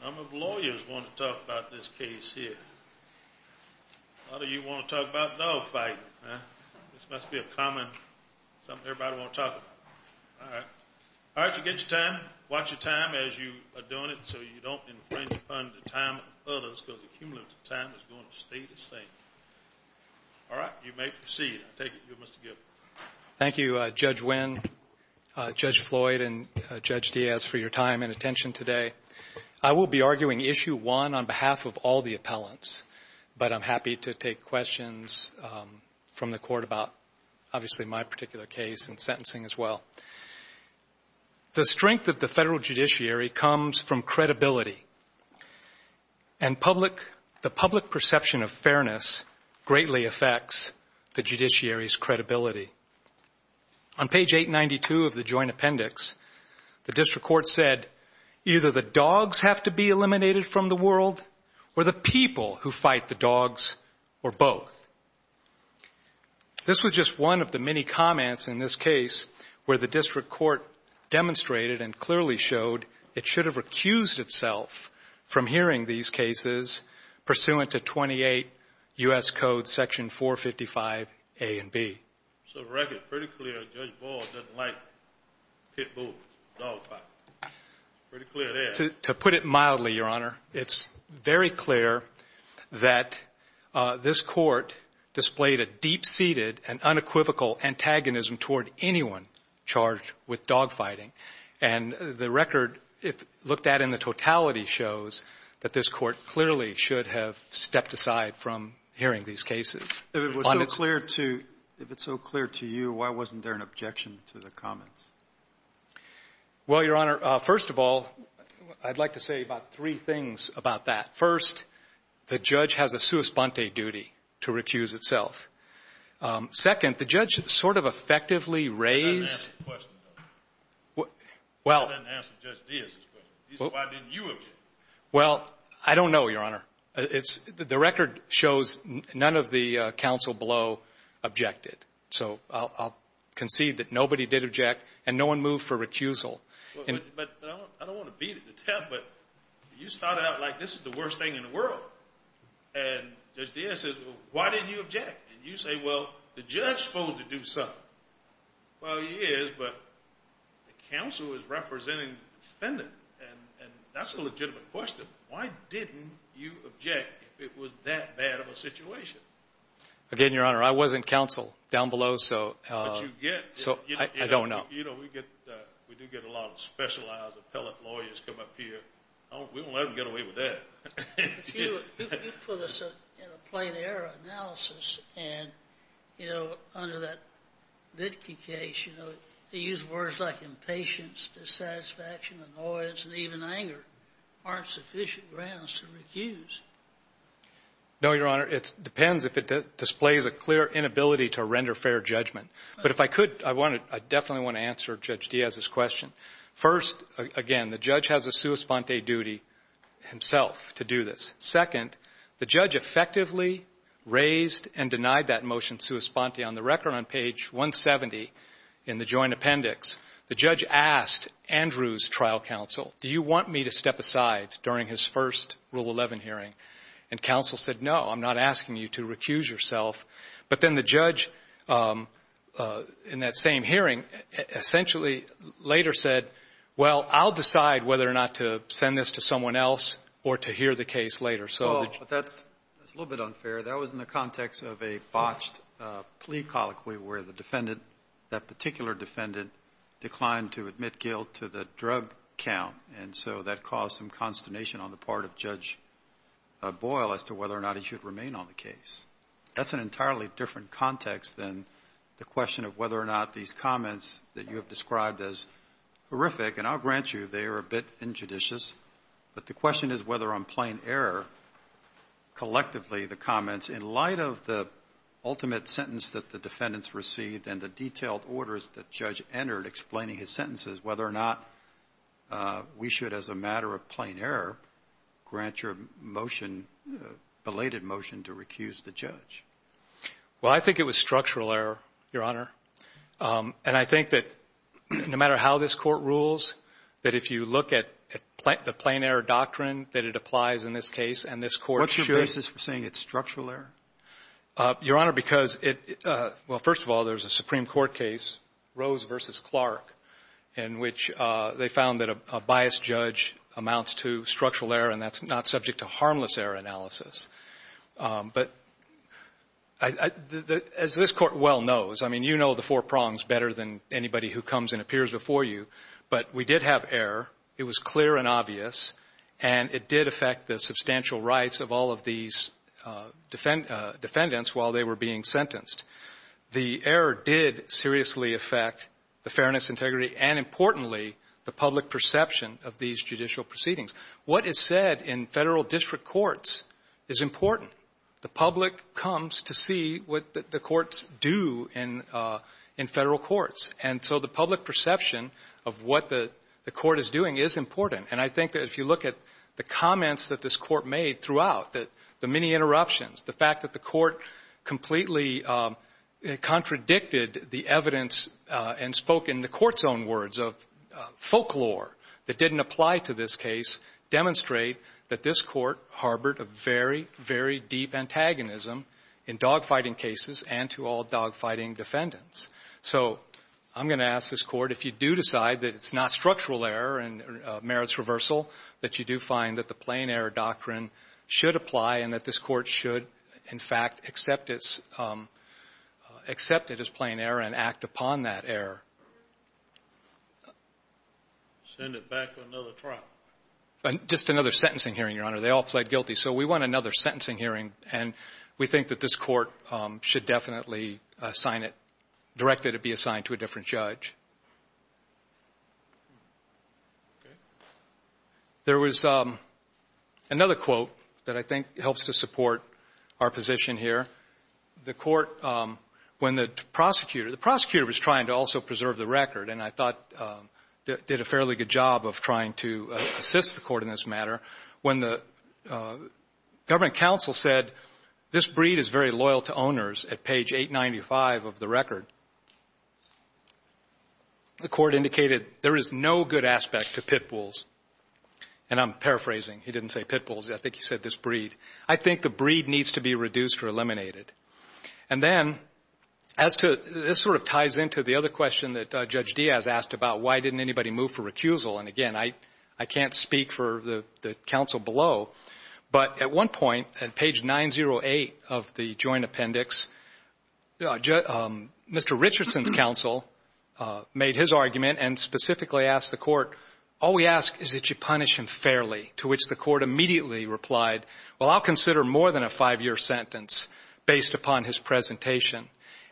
A number of lawyers want to talk about this case here. A lot of you want to talk about dogfighting. This must be a common something everybody wants to talk about. All right. All right, you get your time. Watch your time as you are doing it so you don't infringe upon the time of others because the cumulative time is going to stay the same. All right, you may proceed. I take it you're Mr. Gilbert. Thank you, Judge Winn, Judge Floyd, and Judge Diaz for your time. Thank you for your time and attention today. I will be arguing Issue 1 on behalf of all the appellants, but I'm happy to take questions from the Court about, obviously, my particular case and sentencing as well. The strength of the federal judiciary comes from credibility, and the public perception of fairness greatly affects the judiciary's credibility. On page 892 of the Joint Appendix, the district court said, either the dogs have to be eliminated from the world or the people who fight the dogs or both. This was just one of the many comments in this case where the district court demonstrated and clearly showed it should have recused itself from hearing these cases pursuant to 28 U.S. Code Section 455A and B. So the record is pretty clear that Judge Ball doesn't like Pitbull dogfighting. It's pretty clear there. To put it mildly, Your Honor, it's very clear that this court displayed a deep-seated and unequivocal antagonism toward anyone charged with dogfighting. And the record, if looked at in the totality, shows that this court clearly should have stepped aside from hearing these cases. If it was so clear to you, why wasn't there an objection to the comments? Well, Your Honor, first of all, I'd like to say about three things about that. First, the judge has a sua sponte duty to recuse itself. Second, the judge sort of effectively raised the question. Well, I don't know, Your Honor. The record shows none of the counsel below objected. So I'll concede that nobody did object and no one moved for recusal. I don't want to beat it to death, but you started out like this is the worst thing in the world. And Judge Diaz says, well, why didn't you object? And you say, well, the judge is supposed to do something. Well, he is, but the counsel is representing the defendant, and that's a legitimate question. Why didn't you object if it was that bad of a situation? Again, Your Honor, I wasn't counsel down below, so I don't know. You know, we do get a lot of specialized appellate lawyers come up here. We won't let them get away with that. You put us in a plain error analysis, and, you know, under that Vitke case, you know, they use words like impatience, dissatisfaction, annoyance, and even anger. There aren't sufficient grounds to recuse. No, Your Honor. It depends if it displays a clear inability to render fair judgment. But if I could, I definitely want to answer Judge Diaz's question. First, again, the judge has a sua sponte duty himself to do this. Second, the judge effectively raised and denied that motion sua sponte. On the record on page 170 in the joint appendix, the judge asked Andrew's trial counsel, do you want me to step aside during his first Rule 11 hearing? And counsel said, no, I'm not asking you to recuse yourself. But then the judge, in that same hearing, essentially later said, well, I'll decide whether or not to send this to someone else or to hear the case later. So the judge ---- Well, but that's a little bit unfair. That was in the context of a botched plea colloquy where the defendant, that particular defendant, declined to admit guilt to the drug count. And so that caused some consternation on the part of Judge Boyle as to whether or not he should remain on the case. That's an entirely different context than the question of whether or not these comments that you have described as horrific, and I'll grant you they are a bit injudicious, but the question is whether on plain error, collectively, the comments in light of the ultimate sentence that the defendants received and the detailed orders that Judge entered explaining his sentences, whether or not we should, as a matter of plain error, grant your motion, belated motion, to recuse the judge. Well, I think it was structural error, Your Honor. And I think that no matter how this Court rules, that if you look at the plain error doctrine that it applies in this case and this Court should ---- What's your basis for saying it's structural error? Your Honor, because it ---- well, first of all, there's a Supreme Court case, Rose v. Clark, in which they found that a biased judge amounts to structural error, and that's not subject to harmless error analysis. But as this Court well knows, I mean, you know the four prongs better than anybody who comes and appears before you, but we did have error. It was clear and obvious, and it did affect the substantial rights of all of these defendants while they were being sentenced. The error did seriously affect the fairness, integrity, and, importantly, the public perception of these judicial proceedings. What is said in Federal district courts is important. The public comes to see what the courts do in Federal courts. And so the public perception of what the Court is doing is important. And I think that if you look at the comments that this Court made throughout, the many interruptions, the fact that the Court completely contradicted the evidence and spoke in the Court's own words of folklore that didn't apply to this case, demonstrate that this Court harbored a very, very deep antagonism in dogfighting cases and to all dogfighting defendants. So I'm going to ask this Court, if you do decide that it's not structural error and merits reversal, that you do find that the plain error doctrine should apply and that this Court should, in fact, accept it as plain error and act upon that error. Send it back to another trial. Just another sentencing hearing, Your Honor. They all pled guilty. So we want another sentencing hearing, and we think that this Court should definitely assign it directly to be assigned to a different judge. There was another quote that I think helps to support our position here. The Court, when the prosecutor, the prosecutor was trying to also preserve the record and I thought did a fairly good job of trying to assist the Court in this matter. When the government counsel said this breed is very loyal to owners at page 895 of the record, the Court indicated there is no good aspect to pit bulls. And I'm paraphrasing. He didn't say pit bulls. I think he said this breed. I think the breed needs to be reduced or eliminated. And then as to this sort of ties into the other question that Judge Diaz asked about, why didn't anybody move for recusal? And, again, I can't speak for the counsel below, but at one point at page 908 of the joint appendix, Mr. Richardson's counsel made his argument and specifically asked the Court, all we ask is that you punish him fairly, to which the Court immediately replied, well, I'll consider more than a five-year sentence based upon his presentation.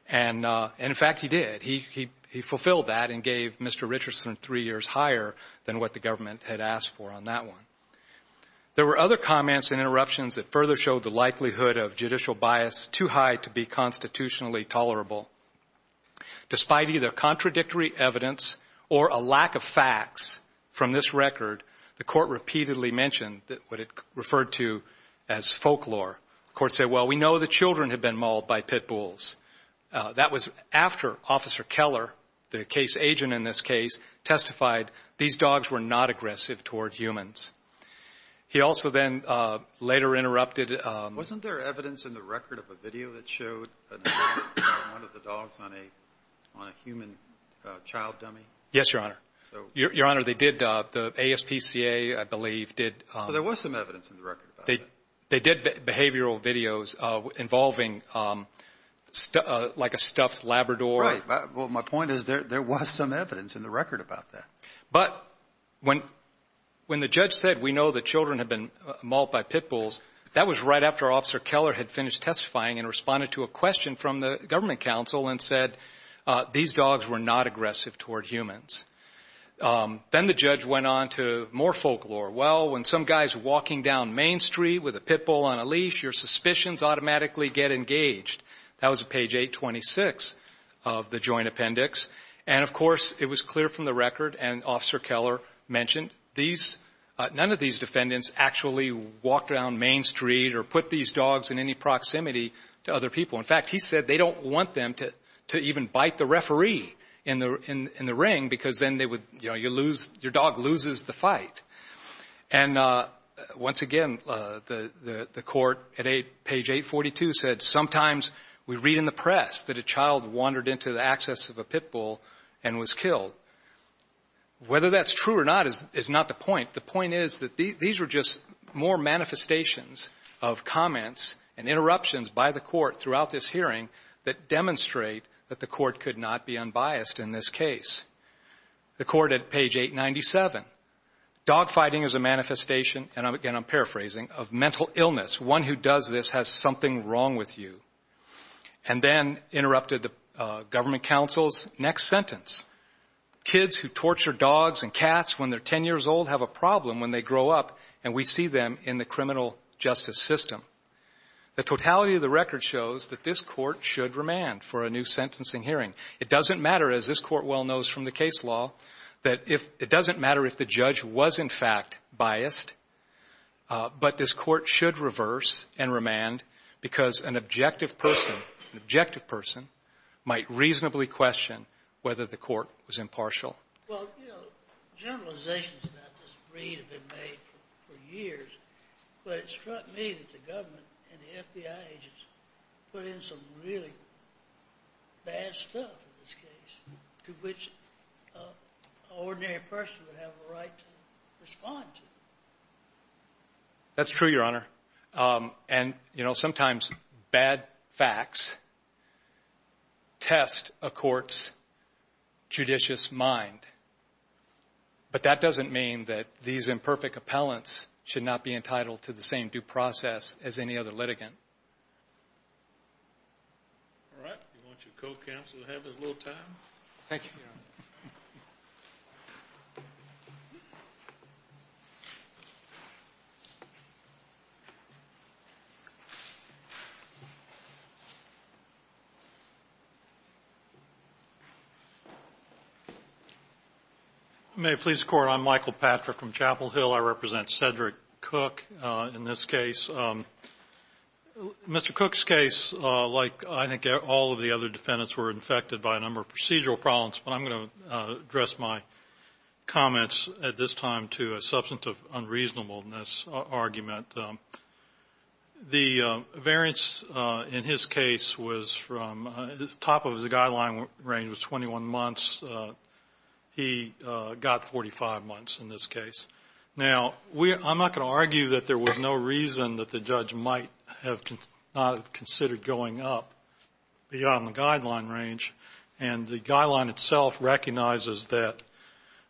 And, in fact, he did. He fulfilled that and gave Mr. Richardson three years higher than what the government had asked for on that one. There were other comments and interruptions that further showed the likelihood of judicial bias too high to be constitutionally tolerable. Despite either contradictory evidence or a lack of facts from this record, the Court repeatedly mentioned what it referred to as folklore. The Court said, well, we know the children had been mauled by pit bulls. That was after Officer Keller, the case agent in this case, testified these dogs were not aggressive toward humans. He also then later interrupted. Wasn't there evidence in the record of a video that showed one of the dogs on a human child dummy? Yes, Your Honor. Your Honor, they did, the ASPCA, I believe, did. There was some evidence in the record about that. They did behavioral videos involving like a stuffed Labrador. Right. Well, my point is there was some evidence in the record about that. But when the judge said, we know the children had been mauled by pit bulls, that was right after Officer Keller had finished testifying and responded to a question from the government counsel and said these dogs were not aggressive toward humans. Then the judge went on to more folklore. Well, when some guy is walking down Main Street with a pit bull on a leash, your suspicions automatically get engaged. That was at page 826 of the Joint Appendix. And, of course, it was clear from the record, and Officer Keller mentioned, none of these defendants actually walked down Main Street or put these dogs in any proximity to other people. In fact, he said they don't want them to even bite the referee in the ring because then they would, you know, your dog loses the fight. And once again, the Court at page 842 said, sometimes we read in the press that a child wandered into the access of a pit bull and was killed. Whether that's true or not is not the point. The point is that these were just more manifestations of comments and interruptions by the Court throughout this hearing that demonstrate that the Court could not be unbiased in this case. The Court at page 897. Dog fighting is a manifestation, and again I'm paraphrasing, of mental illness. One who does this has something wrong with you. And then interrupted the government counsel's next sentence. Kids who torture dogs and cats when they're 10 years old have a problem when they grow up, and we see them in the criminal justice system. The totality of the record shows that this Court should remand for a new sentencing hearing. It doesn't matter, as this Court well knows from the case law, that if the judge was in fact biased, but this Court should reverse and remand because an objective person, an objective person might reasonably question whether the Court was impartial. Well, you know, generalizations about this read have been made for years, but it struck me that the government and the FBI agents put in some really bad stuff in this case to which an ordinary person would have a right to respond to. That's true, Your Honor. And, you know, sometimes bad facts test a court's judicious mind, but that doesn't mean that these imperfect appellants should not be entitled to the same due process as any other litigant. All right. Do you want your co-counsel to have a little time? Thank you, Your Honor. May it please the Court, I'm Michael Patrick from Chapel Hill. I represent Cedric Cook in this case. Mr. Cook's case, like I think all of the other defendants, were infected by a number of procedural problems, but I'm going to address my comments at this time to a substantive unreasonableness argument. The variance in his case was from the top of his guideline range was 21 months. He got 45 months in this case. Now, I'm not going to argue that there was no reason that the judge might have not considered going up beyond the guideline range. And the guideline itself recognizes that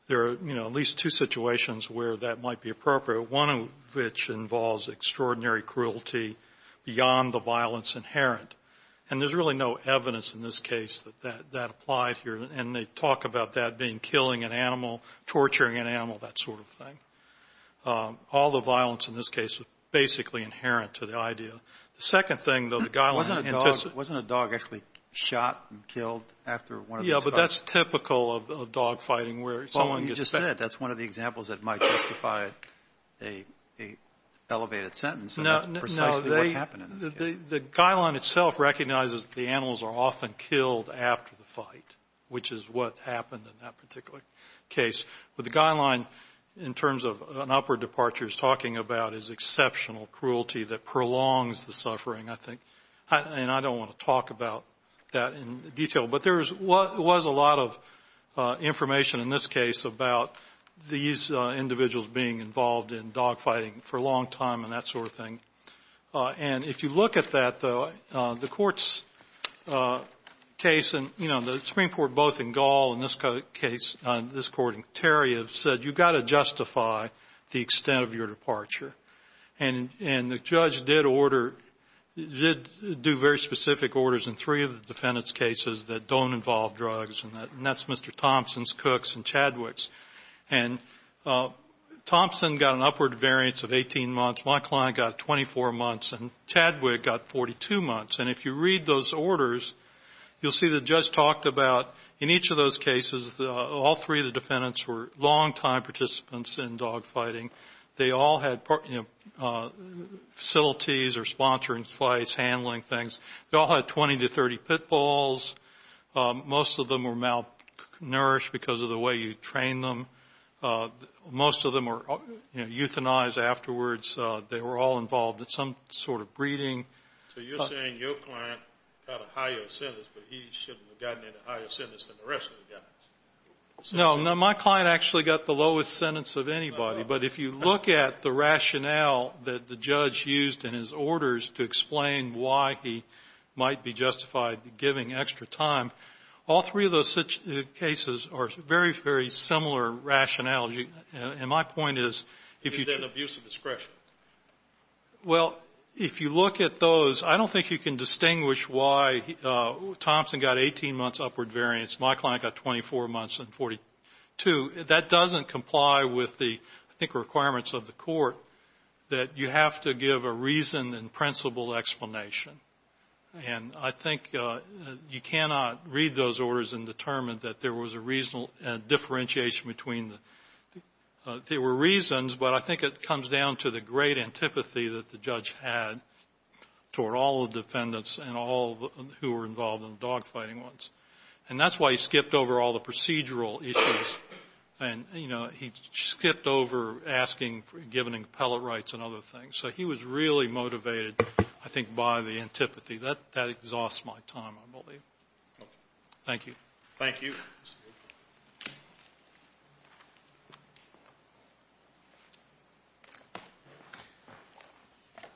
there are, you know, at least two situations where that might be appropriate, one of which involves extraordinary cruelty beyond the violence inherent. And there's really no evidence in this case that that applied here. And they talk about that being killing an animal, torturing an animal, that sort of thing. All the violence in this case is basically inherent to the idea. The second thing, though, the guideline intends to ---- Wasn't a dog actually shot and killed after one of these fights? Yeah, but that's typical of dog fighting where someone gets ---- Well, you just said it. That's one of the examples that might justify an elevated sentence. And that's precisely what happened in this case. The guideline itself recognizes that the animals are often killed after the fight, which is what happened in that particular case. But the guideline, in terms of an upward departure, is talking about is exceptional cruelty that prolongs the suffering, I think. And I don't want to talk about that in detail. But there was a lot of information in this case about these individuals being involved in dog fighting for a long time and that sort of thing. And if you look at that, though, the Court's case and, you know, the Supreme Court both in Gall and this case, this Court in Terry, have said you've got to justify the extent of your departure. And the judge did order, did do very specific orders in three of the defendant's cases that don't involve drugs, and that's Mr. Thompson's, Cook's, and Chadwick's. And Thompson got an upward variance of 18 months. My client got 24 months. And Chadwick got 42 months. And if you read those orders, you'll see the judge talked about, in each of those cases, all three of the defendants were longtime participants in dog fighting. They all had facilities or sponsoring fights, handling things. They all had 20 to 30 pitfalls. Most of them were malnourished because of the way you trained them. Most of them were euthanized afterwards. They were all involved in some sort of breeding. So you're saying your client got a higher sentence, but he shouldn't have gotten a higher sentence than the rest of the guys. No. My client actually got the lowest sentence of anybody. But if you look at the rationale that the judge used in his orders to explain why he might be justified giving extra time, all three of those cases are very, very similar rationality. And my point is, if you choose to. Is that an abuse of discretion? Well, if you look at those, I don't think you can distinguish why Thompson got 18 months upward variance, my client got 24 months and 42. That doesn't comply with the, I think, requirements of the court, that you have to give a reason and principle explanation. And I think you cannot read those orders and determine that there was a reasonable differentiation between the – there were reasons, but I think it comes down to the great antipathy that the judge had toward all the defendants and all who were involved in the dogfighting ones. And that's why he skipped over all the procedural issues. And, you know, he skipped over asking, giving appellate rights and other things. So he was really motivated, I think, by the antipathy. That – that exhausts my time, I believe. Thank you. Thank you.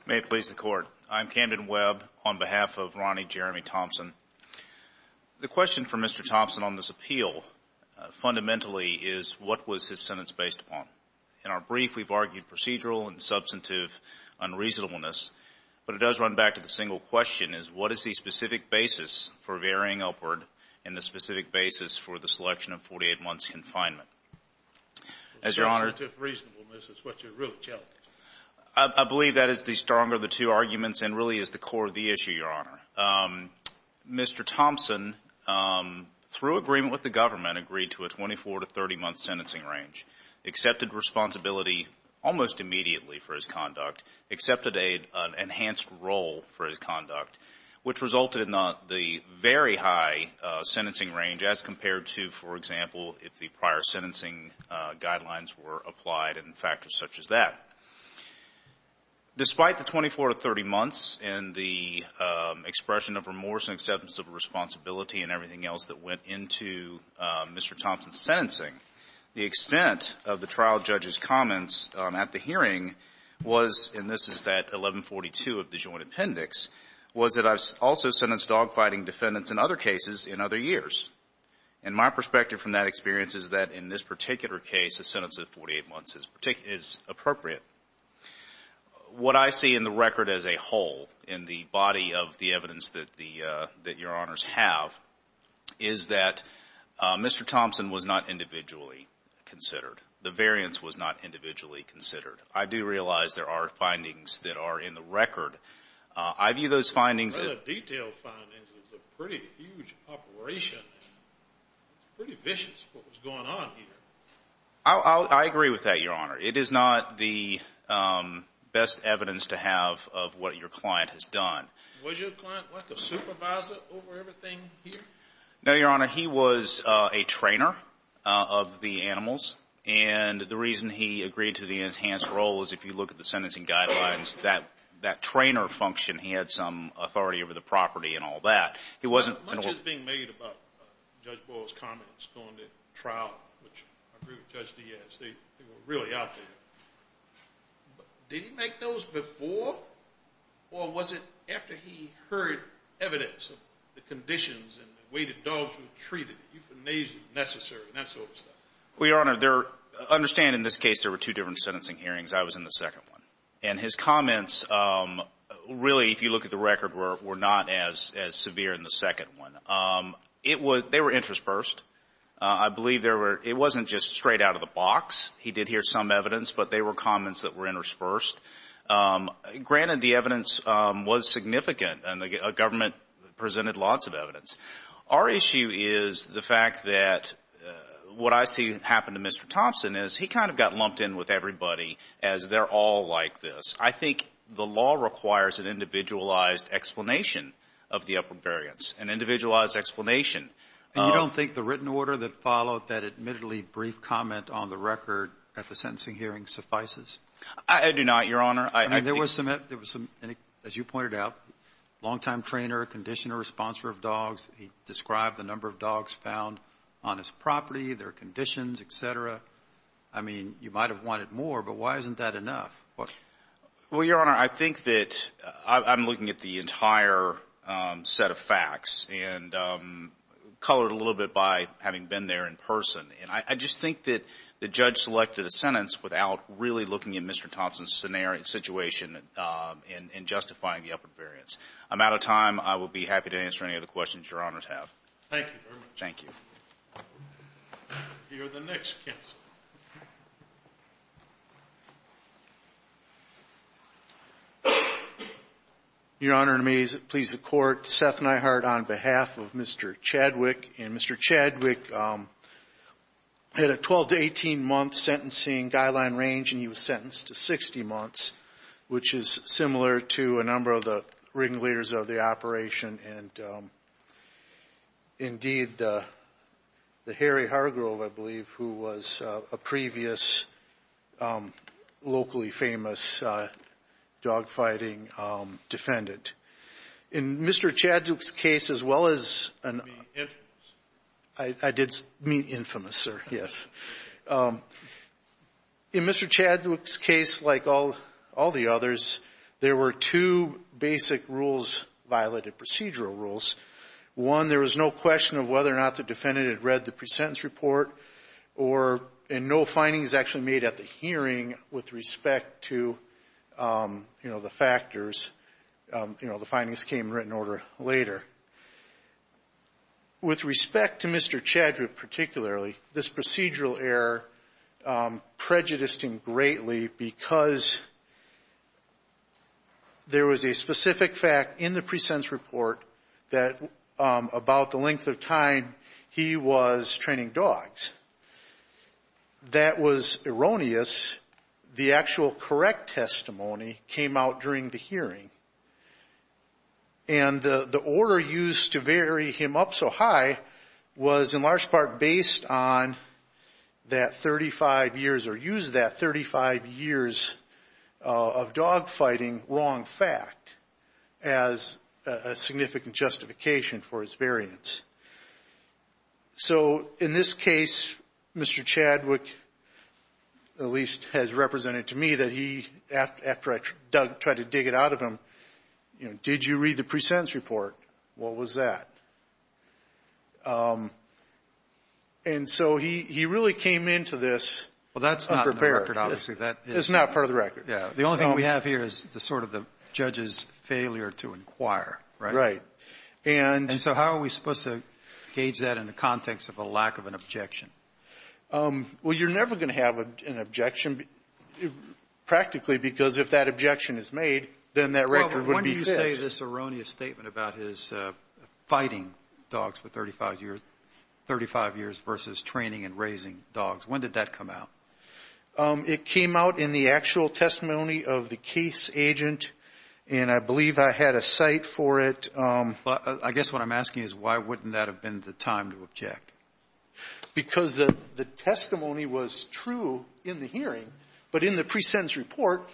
May it please the Court. I'm Camden Webb on behalf of Ronnie Jeremy Thompson. The question for Mr. Thompson on this appeal fundamentally is what was his sentence based upon. In our brief, we've argued procedural and substantive unreasonableness, but it does run back to the single question, is what is the specific basis for varying upward and the specific basis for the selection of 48 months' confinement? As Your Honor – Substantive reasonableness is what you're really challenging. I believe that is the stronger of the two arguments and really is the core of the issue, Your Honor. Mr. Thompson, through agreement with the government, agreed to a 24- to 30-month sentencing range, accepted responsibility almost immediately for his conduct, accepted an enhanced role for his conduct, which resulted in the very high sentencing range as compared to, for example, if the prior sentencing guidelines were applied and factors such as that. Despite the 24- to 30-months and the expression of remorse and acceptance of responsibility and everything else that went into Mr. Thompson's sentencing, the extent of the trial judge's comments at the hearing was, and this is that 1142 of the joint appendix, was that I also sentenced dogfighting defendants in other cases in other years. And my perspective from that experience is that in this particular case, a sentence of 48 months is appropriate. What I see in the record as a whole in the body of the evidence that Your Honors have is that Mr. Thompson was not individually considered. The variance was not individually considered. I do realize there are findings that are in the record. I view those findings as a pretty huge operation. It's pretty vicious what was going on here. I agree with that, Your Honor. It is not the best evidence to have of what your client has done. Was your client like a supervisor over everything here? No, Your Honor. He was a trainer of the animals. And the reason he agreed to the enhanced role is if you look at the sentencing guidelines, that trainer function, he had some authority over the property and all that. Much is being made about Judge Boyle's comments during the trial, which I agree with Judge Diaz. They were really out there. Did he make those before or was it after he heard evidence of the conditions and the way the dogs were treated, euthanasia necessary, that sort of stuff? Well, Your Honor, understand in this case there were two different sentencing hearings. I was in the second one. And his comments really, if you look at the record, were not as severe in the second one. They were interspersed. I believe there were – it wasn't just straight out of the box. He did hear some evidence, but they were comments that were interspersed. Granted, the evidence was significant, and the government presented lots of evidence. Our issue is the fact that what I see happen to Mr. Thompson is he kind of got lumped in with everybody as they're all like this. I think the law requires an individualized explanation of the upward variance, an individualized explanation. You don't think the written order that followed that admittedly brief comment on the record at the sentencing hearing suffices? I do not, Your Honor. There was some, as you pointed out, long-time trainer, conditioner, sponsor of dogs. He described the number of dogs found on his property, their conditions, et cetera. I mean, you might have wanted more, but why isn't that enough? Well, Your Honor, I think that I'm looking at the entire set of facts. And colored a little bit by having been there in person. And I just think that the judge selected a sentence without really looking at Mr. Thompson's scenario and situation in justifying the upward variance. I'm out of time. I will be happy to answer any other questions Your Honors have. Thank you very much. Thank you. You're the next counsel. Your Honor, may it please the Court. Seth Neihart on behalf of Mr. Chadwick. And Mr. Chadwick had a 12 to 18-month sentencing guideline range, and he was sentenced to 60 months, which is similar to a number of the ringleaders of the operation. And, indeed, the Harry Hargrove, I believe, who was a previous locally famous dogfighting defendant. In Mr. Chadwick's case, as well as an — You mean infamous? I did mean infamous, sir, yes. In Mr. Chadwick's case, like all the others, there were two basic rules, violated procedural rules. One, there was no question of whether or not the defendant had read the presentence report, and no findings actually made at the hearing with respect to, you know, the factors. You know, the findings came in written order later. With respect to Mr. Chadwick particularly, this procedural error prejudiced him greatly because there was a specific fact in the presentence report that about the length of time he was training dogs. That was erroneous. The actual correct testimony came out during the hearing. And the order used to vary him up so high was in large part based on that 35 years or used that 35 years of dogfighting wrong fact as a significant justification for his variance. So, in this case, Mr. Chadwick at least has represented to me that he, after I tried to dig it out of him, you know, did you read the presentence report? What was that? And so he really came into this unprepared. Well, that's not part of the record, obviously. That's not part of the record. Yeah. The only thing we have here is sort of the judge's failure to inquire, right? Right. And so how are we supposed to gauge that in the context of a lack of an objection? Well, you're never going to have an objection practically because if that objection is made, then that record would be fixed. When do you say this erroneous statement about his fighting dogs for 35 years versus training and raising dogs? When did that come out? It came out in the actual testimony of the case agent, and I believe I had a cite for it. I guess what I'm asking is why wouldn't that have been the time to object? Because the testimony was true in the hearing, but in the presentence report,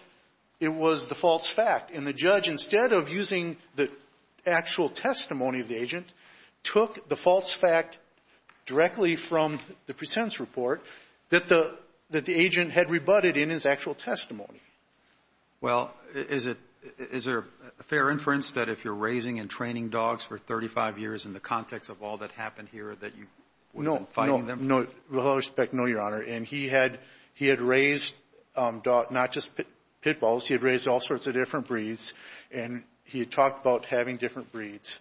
it was the false fact. And the judge, instead of using the actual testimony of the agent, took the false fact directly from the presentence report that the agent had rebutted in his actual testimony. Well, is there a fair inference that if you're raising and training dogs for 35 years in the context of all that happened here that you wouldn't be fighting them? No, with all respect, no, Your Honor. And he had raised not just pit bulls, he had raised all sorts of different breeds, and he had talked about having different breeds,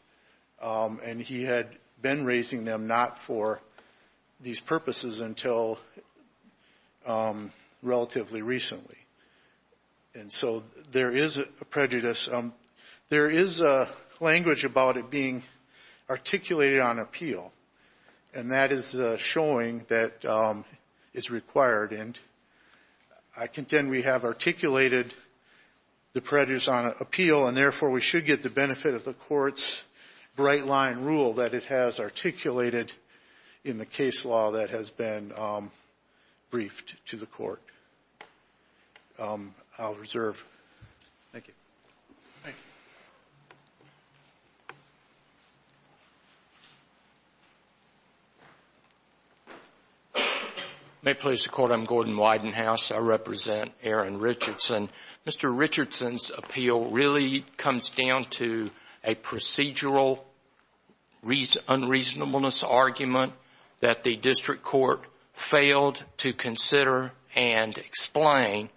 and he had been raising them not for these purposes until relatively recently. And so there is a prejudice. There is language about it being articulated on appeal, and that is showing that it's required. And I contend we have articulated the prejudice on appeal, and therefore we should get the benefit of the Court's bright-line rule that it has articulated in the case law that has been briefed to the Court. I'll reserve. Thank you. Thank you. May it please the Court? I'm Gordon Widenhouse. I represent Aaron Richardson. Mr. Richardson's appeal really comes down to a procedural unreasonableness argument that the District Court failed to consider and explain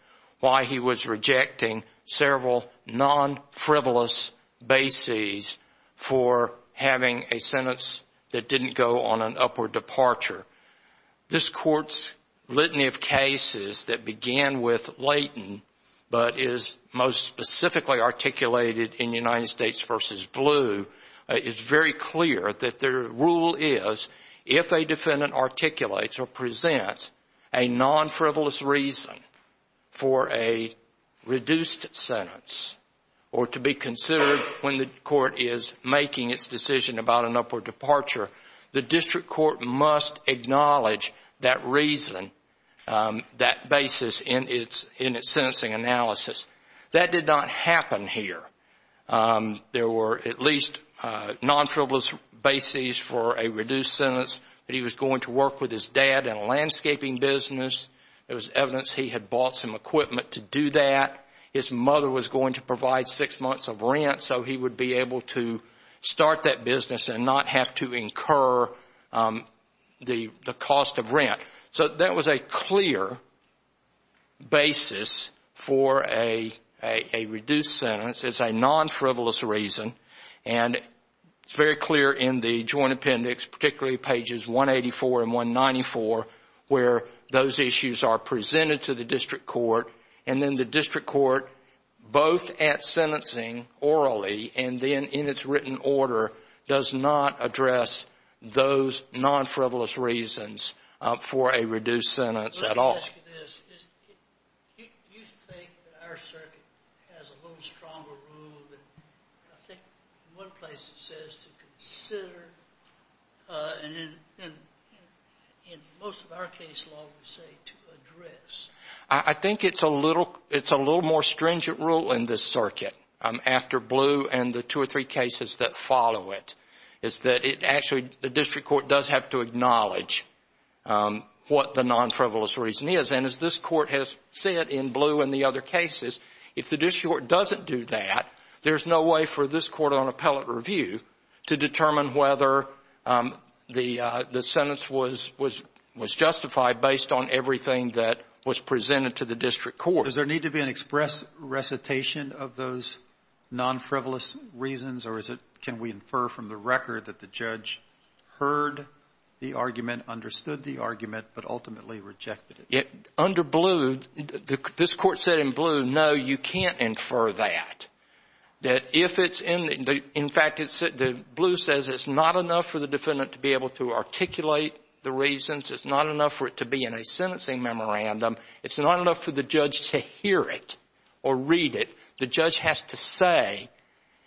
why he was rejecting several non-frivolous bases for having a sentence that didn't go on an upward departure. This Court's litany of cases that began with Leighton but is most specifically articulated in United States v. Blue is very clear that their rule is if a defendant articulates or presents a non-frivolous reason for a reduced sentence or to be considered when the Court is making its decision about an upward departure, the District Court must acknowledge that reason, that basis in its sentencing analysis. That did not happen here. There were at least non-frivolous bases for a reduced sentence that he was going to work with his dad in a landscaping business. There was evidence he had bought some equipment to do that. His mother was going to provide six months of rent, so he would be able to start that business and not have to incur the cost of rent. So that was a clear basis for a reduced sentence. It's a non-frivolous reason. And it's very clear in the Joint Appendix, particularly pages 184 and 194, where those issues are presented to the District Court. And then the District Court, both at sentencing orally and then in its written order, does not address those non-frivolous reasons for a reduced sentence at all. Let me ask you this. Do you think that our circuit has a little stronger rule than, I think, in one place it says to consider and in most of our case law we say to address? I think it's a little more stringent rule in this circuit, after Blue and the two or three cases that follow it, is that actually the District Court does have to acknowledge what the non-frivolous reason is. And as this Court has said in Blue and the other cases, if the District Court doesn't do that, there's no way for this Court on appellate review to determine whether the sentence was justified based on everything that was presented to the District Court. Does there need to be an express recitation of those non-frivolous reasons, or is it can we infer from the record that the judge heard the argument, understood the argument, but ultimately rejected it? Under Blue, this Court said in Blue, no, you can't infer that, that if it's in the — in fact, Blue says it's not enough for the defendant to be able to articulate the reasons, it's not enough for it to be in a sentencing memorandum, it's not enough for the judge to hear it or read it. The judge has to say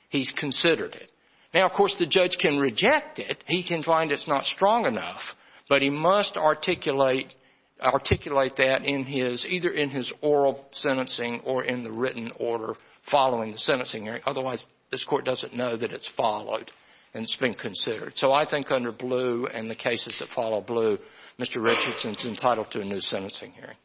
he's considered it. Now, of course, the judge can reject it. He can find it's not strong enough, but he must articulate that in his — either in his oral sentencing or in the written order following the sentencing hearing. Otherwise, this Court doesn't know that it's followed and it's been considered. So I think under Blue and the cases that follow Blue, Mr. Richardson's entitled to a new sentencing hearing.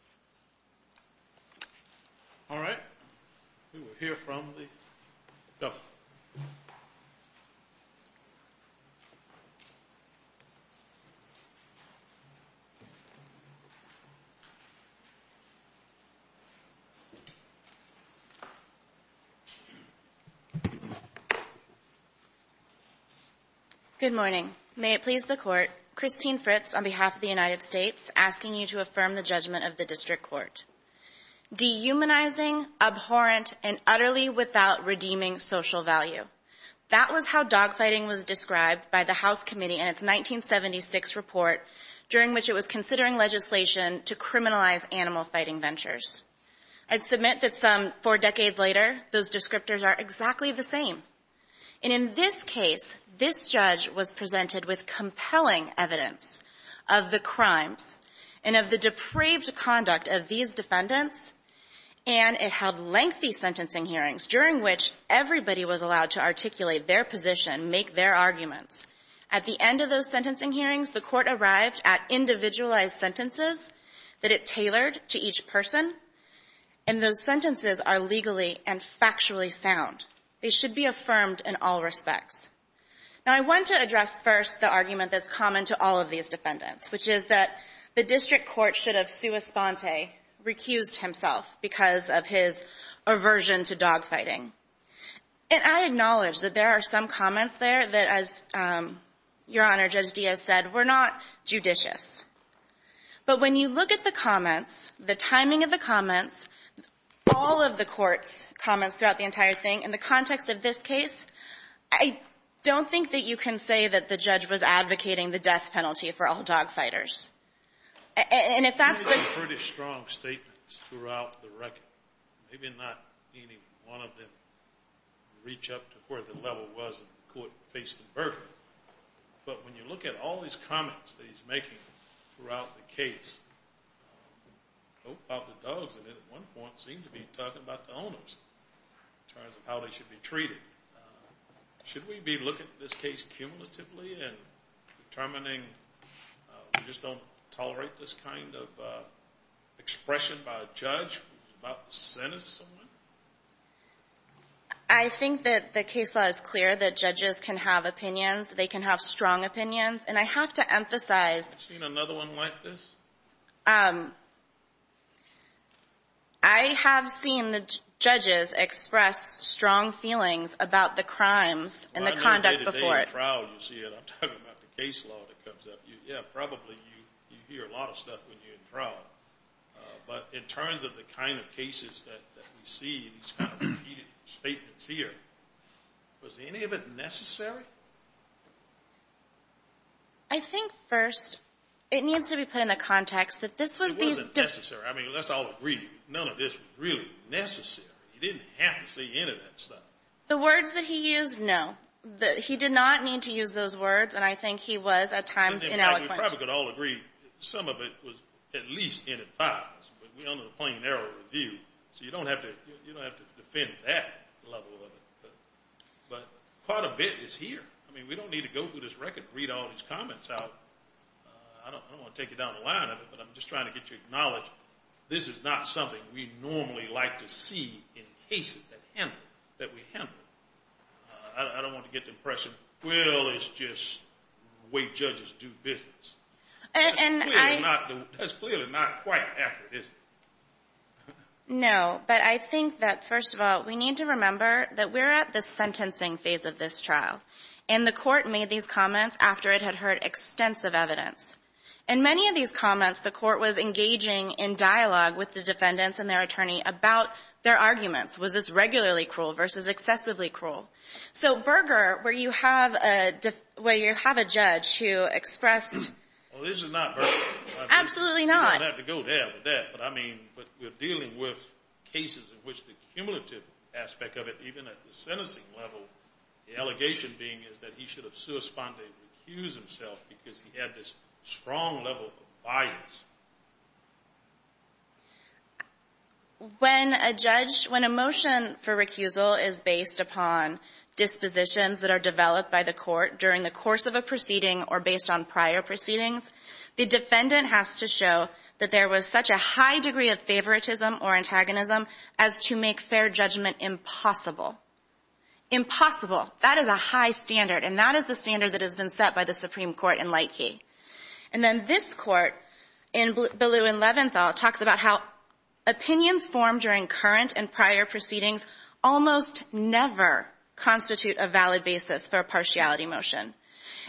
Good morning. May it please the Court. Christine Fritz on behalf of the United States asking you to affirm the judgment of the District Court. Dehumanizing, abhorrent, and utterly without redeeming social value. That was how dogfighting was described by the House Committee in its 1976 report during which it was considering legislation to criminalize animal fighting ventures. I'd submit that some four decades later, those descriptors are exactly the same. And in this case, this judge was presented with compelling evidence of the crimes and of the depraved conduct of these defendants, and it held lengthy sentencing hearings during which everybody was allowed to articulate their position, make their arguments. At the end of those sentencing hearings, the Court arrived at individualized sentences that it tailored to each person, and those sentences are legally and factually sound. They should be affirmed in all respects. Now, I want to address first the argument that's common to all of these defendants, which is that the District Court should have sua sponte, recused himself, because of his aversion to dogfighting. And I acknowledge that there are some comments there that, as Your Honor, Judge Diaz has made, but when you look at the comments, the timing of the comments, all of the Court's comments throughout the entire thing, in the context of this case, I don't think that you can say that the judge was advocating the death penalty for all dogfighters. And if that's the — He made some pretty strong statements throughout the record, maybe not any one of them reach up to where the level was that the Court faced in Burbank. But when you look at all these comments that he's making throughout the case, both about the dogs and then at one point seemed to be talking about the owners in terms of how they should be treated. Should we be looking at this case cumulatively and determining we just don't tolerate this kind of expression by a judge who's about to sentence someone? I think that the case law is clear that judges can have opinions. They can have strong opinions. And I have to emphasize — Have you seen another one like this? I have seen the judges express strong feelings about the crimes and the conduct before it. Well, on your day-to-day in trial, you'll see it. I'm talking about the case law that comes up. Yeah, probably you hear a lot of stuff when you're in trial. But in terms of the kind of cases that we see, these kind of repeated statements here, was any of it necessary? I think, first, it needs to be put in the context that this was these — It wasn't necessary. I mean, let's all agree, none of this was really necessary. He didn't have to say any of that stuff. The words that he used, no. He did not need to use those words, and I think he was at times ineloquent. We probably could all agree some of it was at least in advice, but we're under the plain error of review. So you don't have to defend that level of it. But quite a bit is here. I mean, we don't need to go through this record and read all these comments out. I don't want to take you down the line of it, but I'm just trying to get you to acknowledge this is not something we normally like to see in cases that we handle. I don't want to get the impression, well, it's just the way judges do business. That's clearly not quite accurate, is it? No, but I think that, first of all, we need to remember that we're at the sentencing phase of this trial, and the Court made these comments after it had heard extensive evidence. In many of these comments, the Court was engaging in dialogue with the defendants and their attorney about their arguments. Was this regularly cruel versus excessively cruel? So, Berger, where you have a judge who expressed— Well, this is not Berger. Absolutely not. You don't have to go there for that. But I mean, we're dealing with cases in which the cumulative aspect of it, even at the sentencing level, the allegation being is that he should have suspended and recused himself because he had this strong level of bias. When a judge — when a motion for recusal is based upon dispositions that are developed by the Court during the course of a proceeding or based on prior proceedings, the defendant has to show that there was such a high degree of favoritism or antagonism as to make fair judgment impossible. Impossible. That is a high standard, and that is the standard that has been set by the Supreme Court in Lightkey. And then this Court in Ballew v. Leventhal talks about how opinions formed during current and prior proceedings almost never constitute a valid basis for a partiality motion.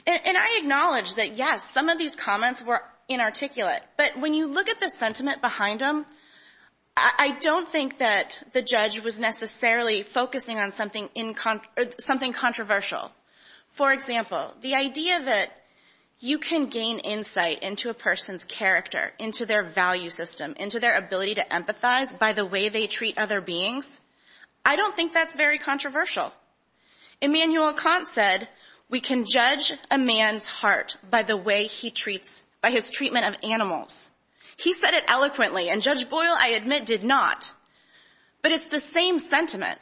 And I acknowledge that, yes, some of these comments were inarticulate, but when you look at the sentiment behind them, I don't think that the judge was necessarily focusing on something in — something controversial. For example, the idea that you can gain insight into a person's character, into their value system, into their ability to empathize by the way they treat other beings, I don't think that's very controversial. Immanuel Kant said we can judge a man's heart by the way he treats — by his treatment of animals. He said it eloquently, and Judge Boyle, I admit, did not. But it's the same sentiment.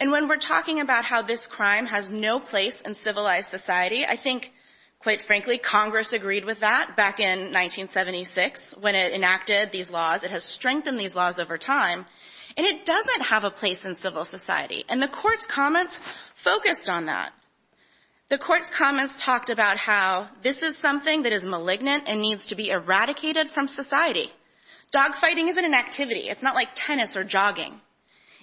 And when we're talking about how this crime has no place in civilized society, I think, quite frankly, Congress agreed with that back in 1976 when it enacted these laws. It has strengthened these laws over time. And it doesn't have a place in civil society. And the Court's comments focused on that. The Court's comments talked about how this is something that is malignant and needs to be eradicated from society. Dogfighting isn't an activity. It's not like tennis or jogging.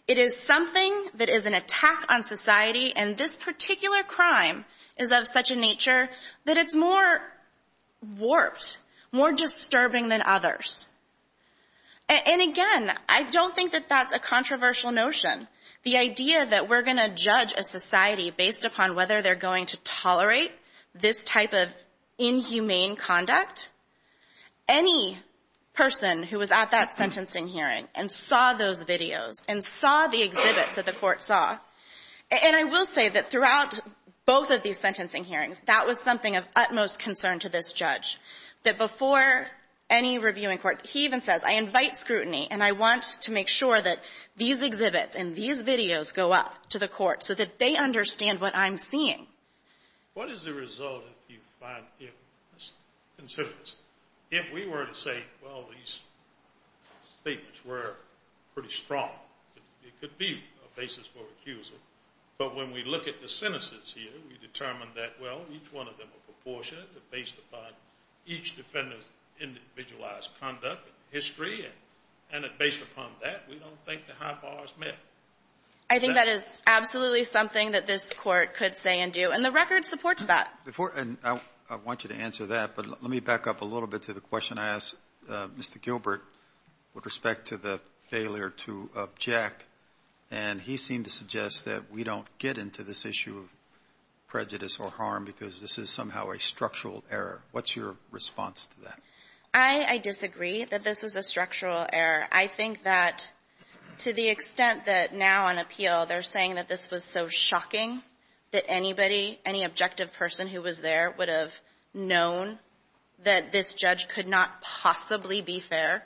It is something that is an attack on society. And this particular crime is of such a nature that it's more warped, more disturbing than others. And again, I don't think that that's a controversial notion. The idea that we're going to judge a society based upon whether they're going to tolerate this type of inhumane conduct, any person who was at that sentencing hearing and saw those videos and saw the exhibits that the Court saw. And I will say that throughout both of these sentencing hearings, that was something of utmost concern to this judge, that before any reviewing court, he even says, I invite scrutiny, and I want to make sure that these exhibits and these videos go up to the Court so that they understand what I'm seeing. What is the result if you find, let's consider this. If we were to say, well, these statements were pretty strong, it could be a basis for accuser. But when we look at the sentences here, we determine that, well, each one of them are proportionate and based upon each defendant's individualized conduct and history, and based upon that, we don't think the high bar is met. I think that is absolutely something that this Court could say and do, and the record supports that. And I want you to answer that, but let me back up a little bit to the question I asked Mr. Gilbert with respect to the failure to object. And he seemed to suggest that we don't get into this issue of prejudice or harm because this is somehow a structural error. What's your response to that? I disagree that this is a structural error. I think that to the extent that now on appeal, they're saying that this was so shocking that anybody, any objective person who was there would have known that this judge could not possibly be fair.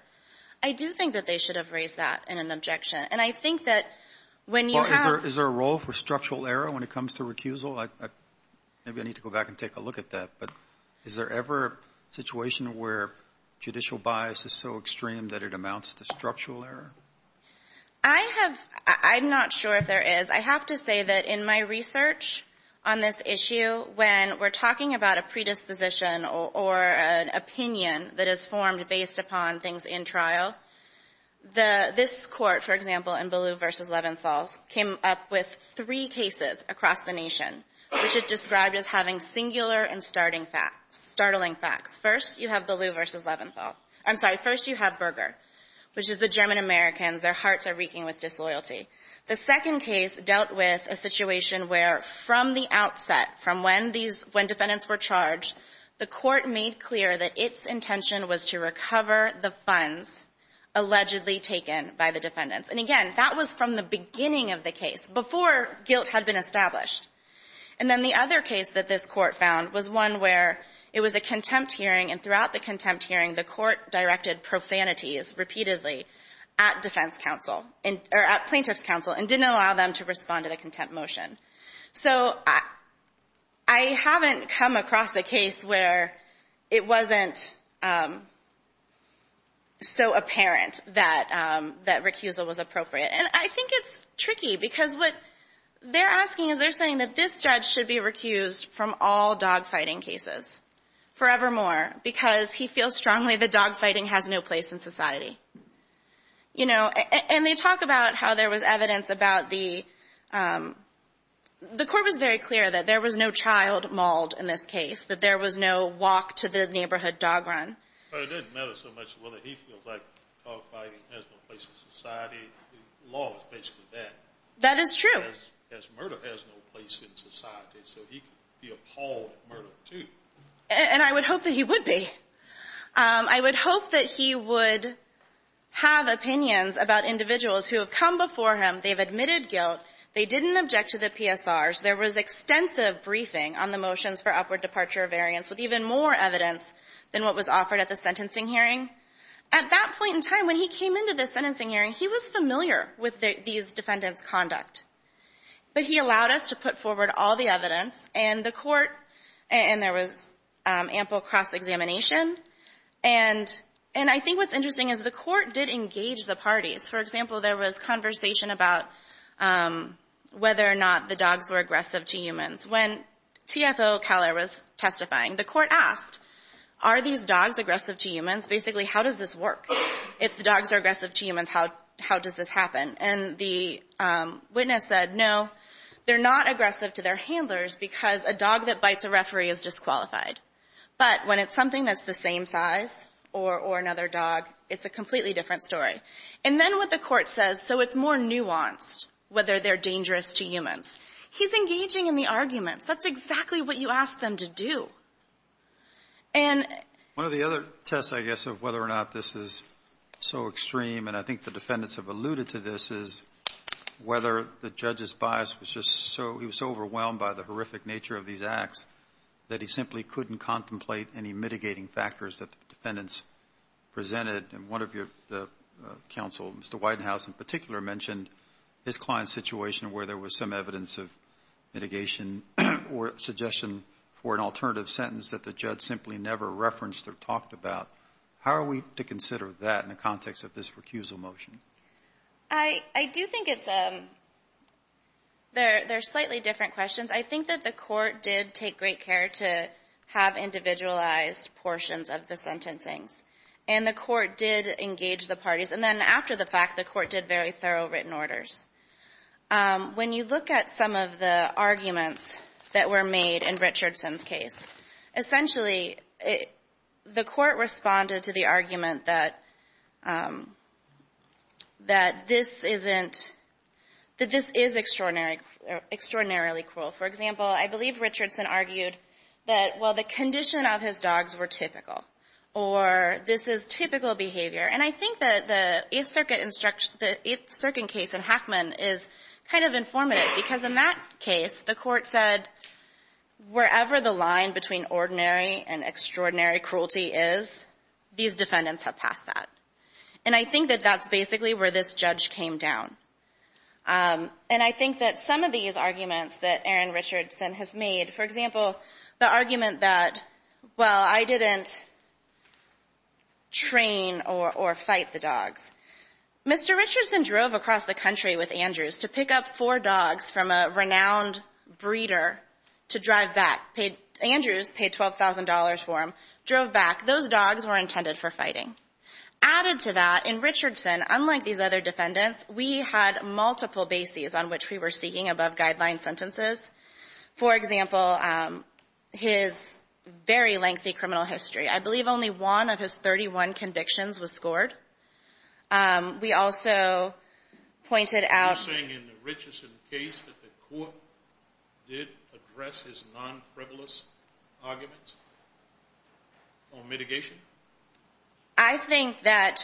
I do think that they should have raised that in an objection. And I think that when you have ---- Well, is there a role for structural error when it comes to recusal? Maybe I need to go back and take a look at that. But is there ever a situation where judicial bias is so extreme that it amounts to structural error? I have ---- I'm not sure if there is. I have to say that in my research on this issue, when we're talking about a predisposition or an opinion that is formed based upon things in trial, the ---- this Court, for example, in Ballou v. Levenstall, came up with three cases across the nation which it described as having singular and starting facts, startling facts. First, you have Ballou v. Levenstall. I'm sorry. First, you have Berger, which is the German-Americans. Their hearts are reeking with disloyalty. The second case dealt with a situation where from the outset, from when these ---- when defendants were charged, the Court made clear that its intention was to recover the funds allegedly taken by the defendants. And again, that was from the beginning of the case, before guilt had been established. And then the other case that this Court found was one where it was a contempt hearing, and throughout the contempt hearing, the Court directed profanities repeatedly at defense counsel and ---- or at plaintiff's counsel and didn't allow them to respond to the contempt motion. So I haven't come across a case where it wasn't so apparent that recusal was appropriate. And I think it's tricky because what they're asking is they're saying that this judge should be recused from all dogfighting cases forevermore because he feels strongly that dogfighting has no place in society. You know, and they talk about how there was evidence about the ---- the Court was very clear that there was no child mauled in this case, that there was no walk to the neighborhood dog run. But it doesn't matter so much whether he feels like dogfighting has no place in society. The law is basically that. That is true. Because murder has no place in society. So he could be appalled at murder, too. And I would hope that he would be. I would hope that he would have opinions about individuals who have come before him. They've admitted guilt. They didn't object to the PSRs. There was extensive briefing on the motions for upward departure of variance with even more evidence than what was offered at the sentencing hearing. At that point in time, when he came into the sentencing hearing, he was familiar with these defendants' conduct. But he allowed us to put forward all the evidence. And the Court ---- and there was ample cross-examination. And I think what's interesting is the Court did engage the parties. For example, there was conversation about whether or not the dogs were aggressive to humans. When TFO Keller was testifying, the Court asked, are these dogs aggressive to humans? Basically, how does this work? If the dogs are aggressive to humans, how does this happen? And the witness said, no, they're not aggressive to their handlers because a dog that bites a referee is disqualified. But when it's something that's the same size or another dog, it's a completely different story. And then what the Court says, so it's more nuanced whether they're dangerous to humans. He's engaging in the arguments. That's exactly what you ask them to do. And ---- One of the other tests, I guess, of whether or not this is so extreme, and I think the defendants have alluded to this, is whether the judge's bias was just so ---- he was so overwhelmed by the horrific nature of these acts that he simply couldn't contemplate any mitigating factors that the defendants presented. And one of your counsel, Mr. Widenhouse, in particular mentioned his client's situation where there was some evidence of mitigation or suggestion for an alternative sentence that the judge simply never referenced or talked about. How are we to consider that in the context of this recusal motion? I do think it's a ---- they're slightly different questions. I think that the Court did take great care to have individualized portions of the parties, and then after the fact, the Court did very thorough written orders. When you look at some of the arguments that were made in Richardson's case, essentially the Court responded to the argument that this isn't ---- that this is extraordinarily cruel. For example, I believe Richardson argued that, well, the condition of his dogs were typical, or this is typical behavior. And I think that the 8th Circuit instruction ---- the 8th Circuit case in Hackman is kind of informative, because in that case, the Court said, wherever the line between ordinary and extraordinary cruelty is, these defendants have passed that. And I think that that's basically where this judge came down. And I think that some of these arguments that Aaron Richardson has made, for example, the argument that, well, I didn't train or fight the dogs. Mr. Richardson drove across the country with Andrews to pick up four dogs from a renowned breeder to drive back. Andrews paid $12,000 for him, drove back. Those dogs were intended for fighting. Added to that, in Richardson, unlike these other defendants, we had multiple bases on which we were seeking above-guideline sentences. For example, his very lengthy criminal history. I believe only one of his 31 convictions was scored. We also pointed out ---- You're saying in the Richardson case that the Court did address his non-frivolous arguments on mitigation? I think that,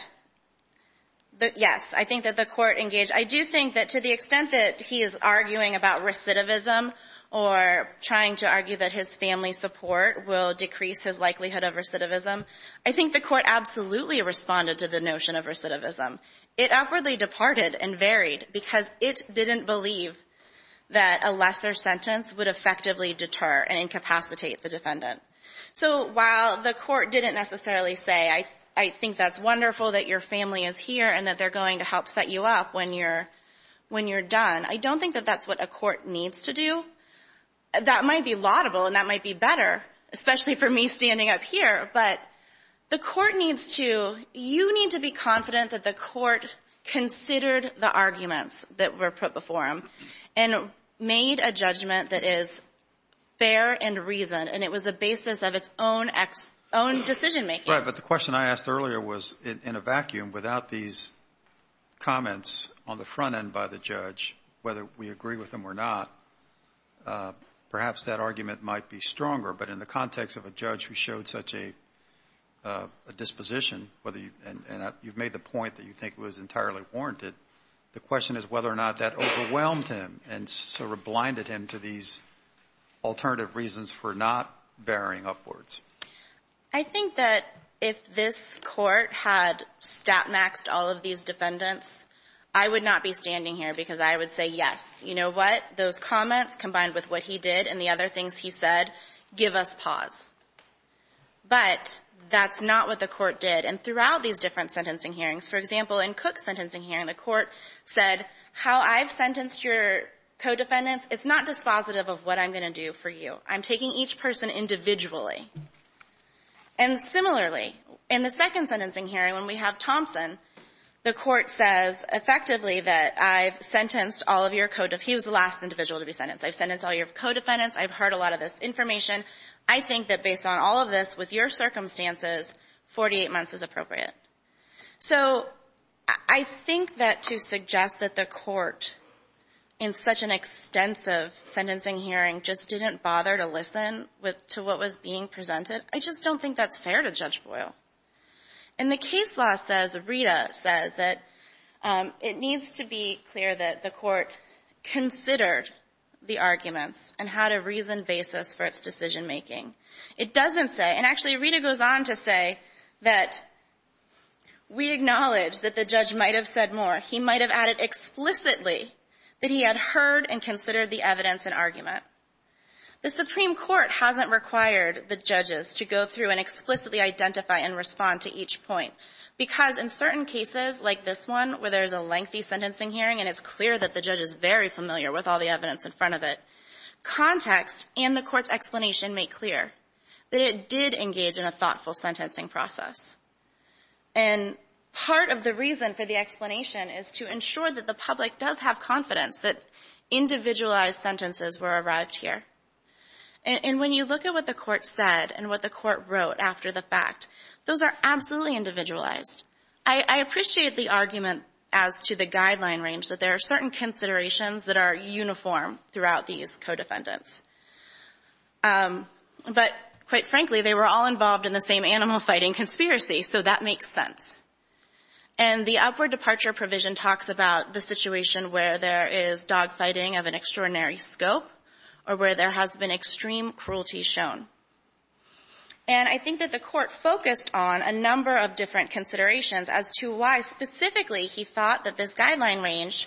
yes, I think that the Court engaged. I do think that to the extent that he is arguing about recidivism or trying to argue that his family's support will decrease his likelihood of recidivism, I think the Court absolutely responded to the notion of recidivism. It outwardly departed and varied because it didn't believe that a lesser sentence would effectively deter and incapacitate the defendant. So while the Court didn't necessarily say, I think that's wonderful that your family is here and that they're going to help set you up when you're done, I don't think that that's what a court needs to do. That might be laudable and that might be better, especially for me standing up here, but the Court needs to ---- you need to be confident that the Court considered the arguments that were put before him and made a judgment that is fair and reasoned, and it was the basis of its own decision-making. But the question I asked earlier was, in a vacuum, without these comments on the front end by the judge, whether we agree with them or not, perhaps that argument might be stronger. But in the context of a judge who showed such a disposition and you've made the point that you think it was entirely warranted, the question is whether or not that overwhelmed him and sort of blinded him to these alternative reasons for not varying upwards. I think that if this Court had stat-maxed all of these defendants, I would not be standing here because I would say, yes, you know what? Those comments, combined with what he did and the other things he said, give us pause. But that's not what the Court did. And throughout these different sentencing hearings, for example, in Cook's sentencing hearing, the Court said, how I've sentenced your co-defendants, it's not dispositive of what I'm going to do for you. I'm taking each person individually. And similarly, in the second sentencing hearing, when we have Thompson, the Court says effectively that I've sentenced all of your co-defendants. He was the last individual to be sentenced. I've sentenced all your co-defendants. I've heard a lot of this information. I think that based on all of this, with your circumstances, 48 months is appropriate. So I think that to suggest that the Court, in such an extensive sentencing hearing, just didn't bother to listen to what was being presented, I just don't think that's fair to Judge Boyle. And the case law says, Rita says, that it needs to be clear that the Court considered the arguments and had a reasoned basis for its decision-making. It doesn't say, and actually, Rita goes on to say that we acknowledge that the judge might have said more. He might have added explicitly that he had heard and considered the evidence and argument. The Supreme Court hasn't required the judges to go through and explicitly identify and respond to each point, because in certain cases, like this one, where there's a lengthy sentencing hearing and it's clear that the judge is very familiar with all the evidence in front of it, context and the Court's explanation make clear that it did engage in a thoughtful process. And I have confidence that individualized sentences were arrived here. And when you look at what the Court said and what the Court wrote after the fact, those are absolutely individualized. I appreciate the argument as to the guideline range, that there are certain considerations that are uniform throughout these co-defendants. But quite frankly, they were all involved in the same animal-fighting conspiracy, so that makes sense. And the upward departure provision talks about the situation where there is dog-fighting of an extraordinary scope or where there has been extreme cruelty shown. And I think that the Court focused on a number of different considerations as to why specifically he thought that this guideline range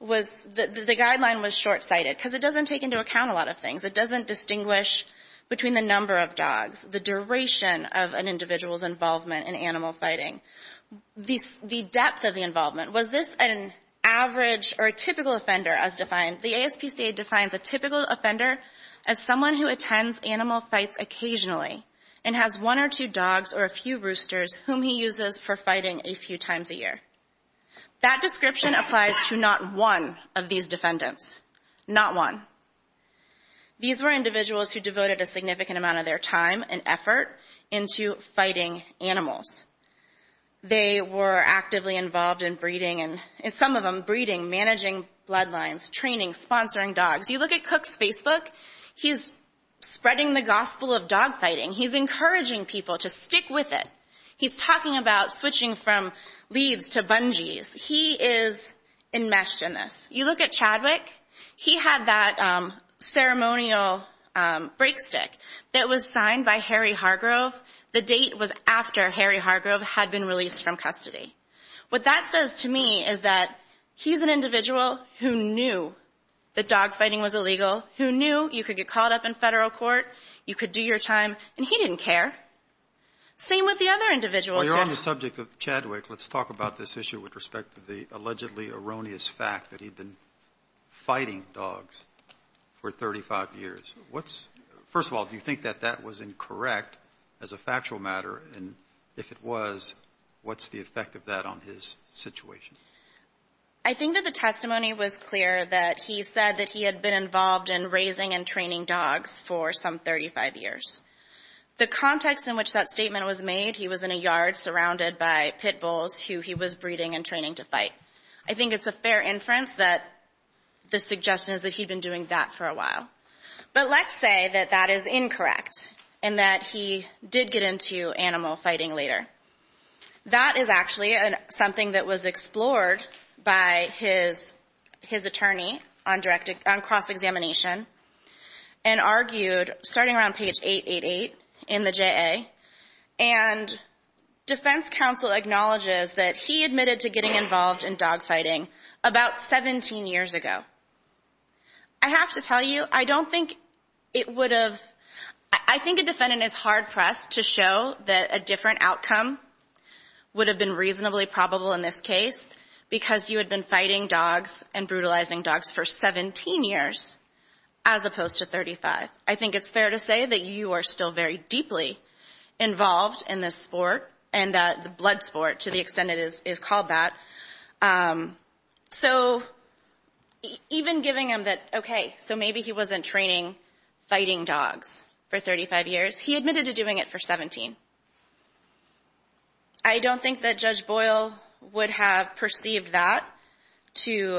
was the guideline was short-sighted, because it doesn't take into account a lot of things. It doesn't distinguish between the number of dogs, the duration of an individual's involvement in animal-fighting, the depth of the involvement. Was this an average or a typical offender as defined? The ASPCA defines a typical offender as someone who attends animal fights occasionally and has one or two dogs or a few roosters whom he uses for fighting a few times a year. That description applies to not one of these defendants. Not one. These were individuals who devoted a significant amount of their time and effort into fighting animals. They were actively involved in breeding, and some of them breeding, managing bloodlines, training, sponsoring dogs. You look at Cook's Facebook. He's spreading the gospel of dog-fighting. He's encouraging people to stick with it. He's talking about switching from leads to bungees. He is enmeshed in this. You look at Chadwick. He had that ceremonial break stick that was signed by Harry Hargrove. The date was after Harry Hargrove had been released from custody. What that says to me is that he's an individual who knew that dog-fighting was illegal, who knew you could get called up in federal court, you could do your time, and he didn't care. Same with the other individuals here. Well, you're on the subject of Chadwick. Let's talk about this issue with respect to the allegedly erroneous fact that he'd been fighting dogs for 35 years. First of all, do you think that that was incorrect as a factual matter? And if it was, what's the effect of that on his situation? I think that the testimony was clear that he said that he had been involved in raising and training dogs for some 35 years. The context in which that statement was made, he was in a yard surrounded by pit bulls who he was breeding and training to fight. I think it's a fair inference that the suggestion is that he'd been doing that for a while. But let's say that that is incorrect and that he did get into animal fighting later. That is actually something that was explored by his attorney on cross-examination and argued starting around page 888 in the JA. And defense counsel acknowledges that he admitted to getting involved in dog-fighting about 17 years ago. I have to tell you, I don't think it would have – I think a defendant is hard-pressed to show that a different outcome would have been reasonably probable in this case because you had been fighting dogs and brutalizing dogs for 17 years as opposed to 35. I think it's fair to say that you are still very deeply involved in this sport and that the blood sport, to the extent it is called that. So even giving him that, okay, so maybe he wasn't training fighting dogs for 35 years. He admitted to doing it for 17. I don't think that Judge Boyle would have perceived that to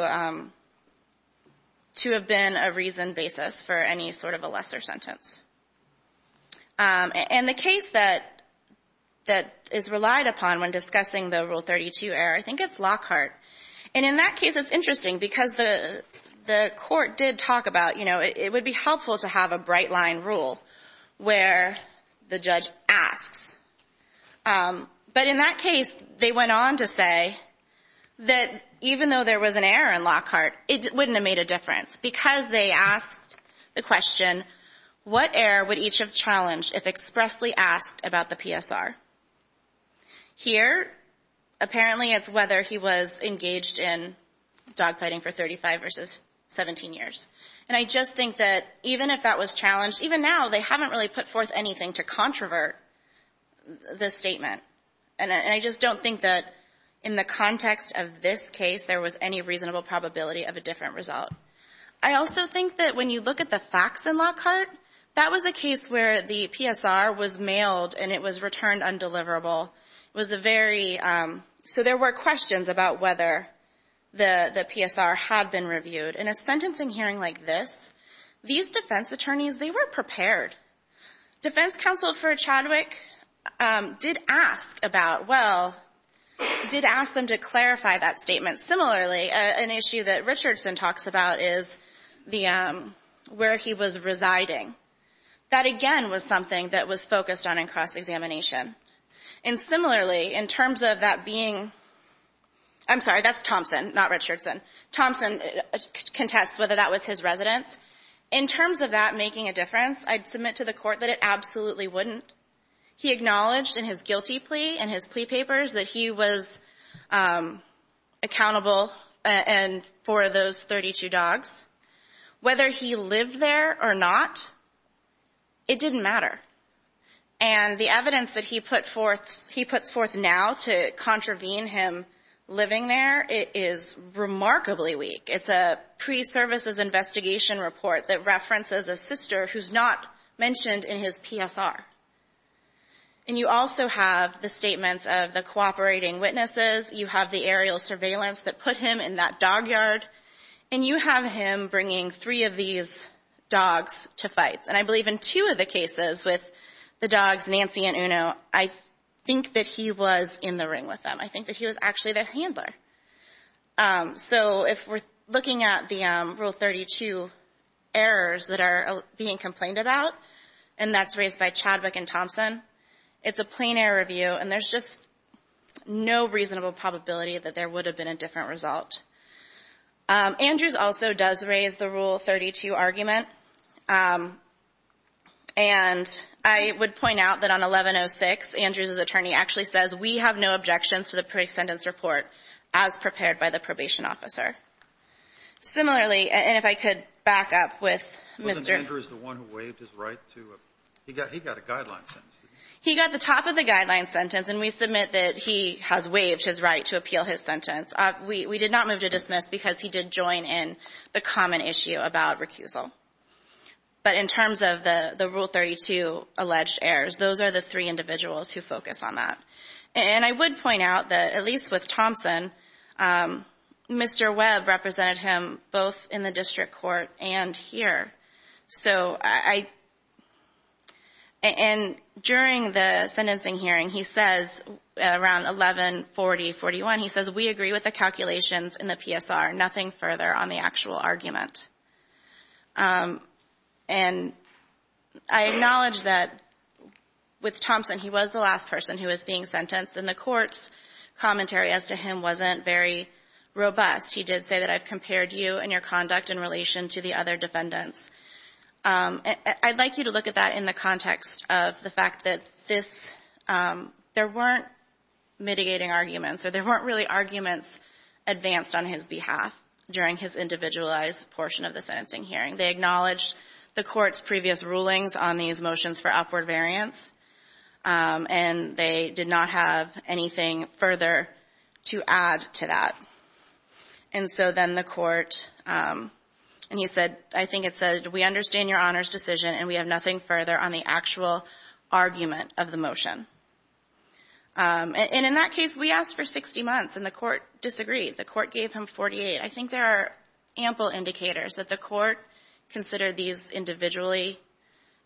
have been a reasoned basis for any sort of a lesser sentence. And the case that is relied upon when discussing the Rule 32 error, I think it's Lockhart. And in that case, it's interesting because the court did talk about, you know, it would be helpful to have a bright-line rule where the judge asks. But in that case, they went on to say that even though there was an error in Lockhart, it wouldn't have made a difference because they asked the question, what error would each have challenged if expressly asked about the PSR? Here, apparently it's whether he was engaged in dog-fighting for 35 versus 17 years. And I just think that even if that was challenged, even now they haven't really put forth anything to controvert the statement. And I just don't think that in the context of this case there was any reasonable probability of a different result. I also think that when you look at the facts in Lockhart, that was a case where the PSR was mailed and it was returned undeliverable. It was a very — so there were questions about whether the PSR had been reviewed. In a sentencing hearing like this, these defense attorneys, they were prepared. Defense Counsel for Chadwick did ask about — well, did ask them to clarify that statement. Similarly, an issue that Richardson talks about is where he was residing. That, again, was something that was focused on in cross-examination. And similarly, in terms of that being — I'm sorry, that's Thompson, not Richardson. Thompson contests whether that was his residence. In terms of that making a difference, I'd submit to the Court that it absolutely wouldn't. He acknowledged in his guilty plea and his plea papers that he was accountable for those 32 dogs. Whether he lived there or not, it didn't matter. And the evidence that he put forth — he puts forth now to contravene him living there is remarkably weak. It's a pre-services investigation report that references a sister who's not mentioned in his PSR. And you also have the statements of the cooperating witnesses. You have the aerial surveillance that put him in that dog yard. And you have him bringing three of these dogs to fights. And I believe in two of the cases with the dogs, Nancy and Uno, I think that he was in the ring with them. I think that he was actually their handler. So if we're looking at the Rule 32 errors that are being complained about, and that's raised by Chadwick and Thompson, it's a plain-error review, and there's just no reasonable probability that there would have been a different result. Andrews also does raise the Rule 32 argument. And I would point out that on 1106, Andrews' attorney actually says, we have no objections to the pre-sentence report as prepared by the probation officer. Similarly, and if I could back up with Mr. — He got a guideline sentence. He got the top of the guideline sentence, and we submit that he has waived his right to appeal his sentence. We did not move to dismiss because he did join in the common issue about recusal. But in terms of the Rule 32 alleged errors, those are the three individuals who focus on that. And I would point out that, at least with Thompson, Mr. Webb represented him both in the district court and here. And during the sentencing hearing, he says, around 1140-41, he says, we agree with the calculations in the PSR, nothing further on the actual argument. And I acknowledge that with Thompson, he was the last person who was being sentenced, and the court's commentary as to him wasn't very robust. He did say that I've compared you and your conduct in relation to the other defendants. I'd like you to look at that in the context of the fact that this — there weren't mitigating arguments, or there weren't really arguments advanced on his behalf during his individualized portion of the sentencing hearing. They acknowledged the court's previous rulings on these motions for upward variance, and they did not have anything further to add to that. And so then the court — and he said — I think it said, we understand your Honor's decision, and we have nothing further on the actual argument of the motion. And in that case, we asked for 60 months, and the court disagreed. The court gave him 48. I think there are ample indicators that the court considered these individually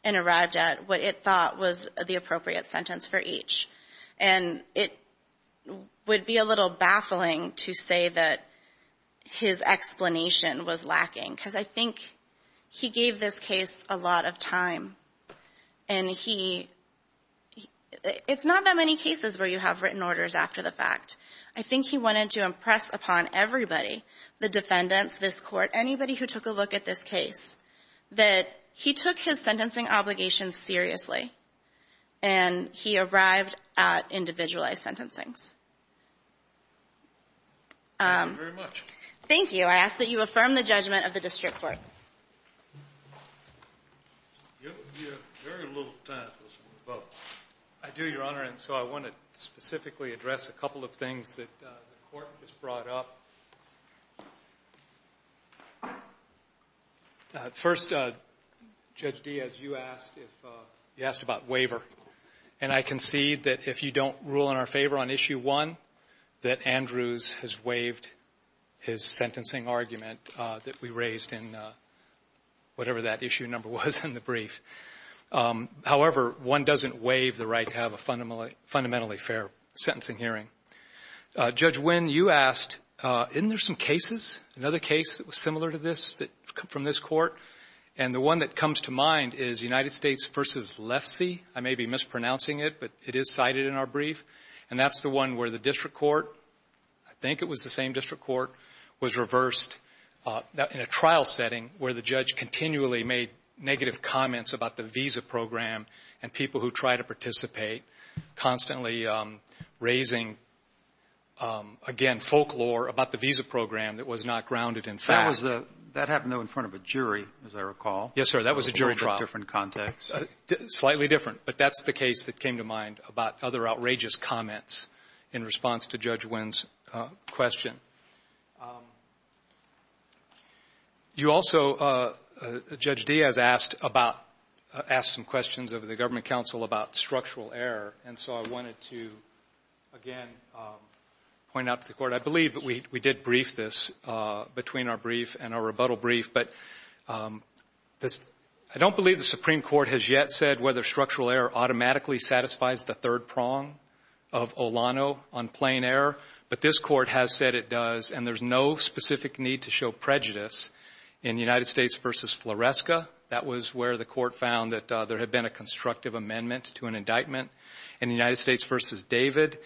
and arrived at what it thought was the appropriate sentence for each. And it would be a little baffling to say that his explanation was lacking, because I think he gave this case a lot of time. And he — it's not that many cases where you have written orders after the fact. I think he wanted to impress upon everybody — the defendants, this court, anybody who took a look at this case — that he took his sentencing obligations seriously, and he arrived at individualized sentencings. Thank you very much. Thank you. I ask that you affirm the judgment of the district court. You have very little time to vote. I do, Your Honor, and so I want to specifically address a couple of things that the court has brought up. First, Judge Diaz, you asked about waiver. And I concede that if you don't rule in our favor on Issue 1, that Andrews has waived his sentencing argument that we raised in whatever that issue number was in the brief. However, one doesn't waive the right to have a fundamentally fair sentencing hearing. Judge Wynn, you asked, isn't there some cases, another case that was similar to this from this court? And the one that comes to mind is United States v. Lefsey. I may be mispronouncing it, but it is cited in our brief. And that's the one where the district court — I think it was the same district court — was reversed in a trial setting where the judge continually made negative comments about the visa program and people who try to participate, constantly raising, again, folklore about the visa program that was not grounded in fact. That was the — that happened, though, in front of a jury, as I recall. Yes, sir. That was a jury trial. A little bit different context. Slightly different. But that's the case that came to mind about other outrageous comments in response to Judge Wynn's question. You also, Judge Diaz, asked about — asked some questions of the Government Counsel about structural error. And so I wanted to, again, point out to the Court, I believe that we — we did brief this between our brief and our rebuttal brief. But this — I don't believe the Supreme Court has yet said whether structural error automatically satisfies the third prong of Olano on plain error. But this Court has said it does, and there's no specific need to show prejudice in United States v. Floresca. That was where the Court found that there had been a constructive amendment to an indictment. In the United States v. David,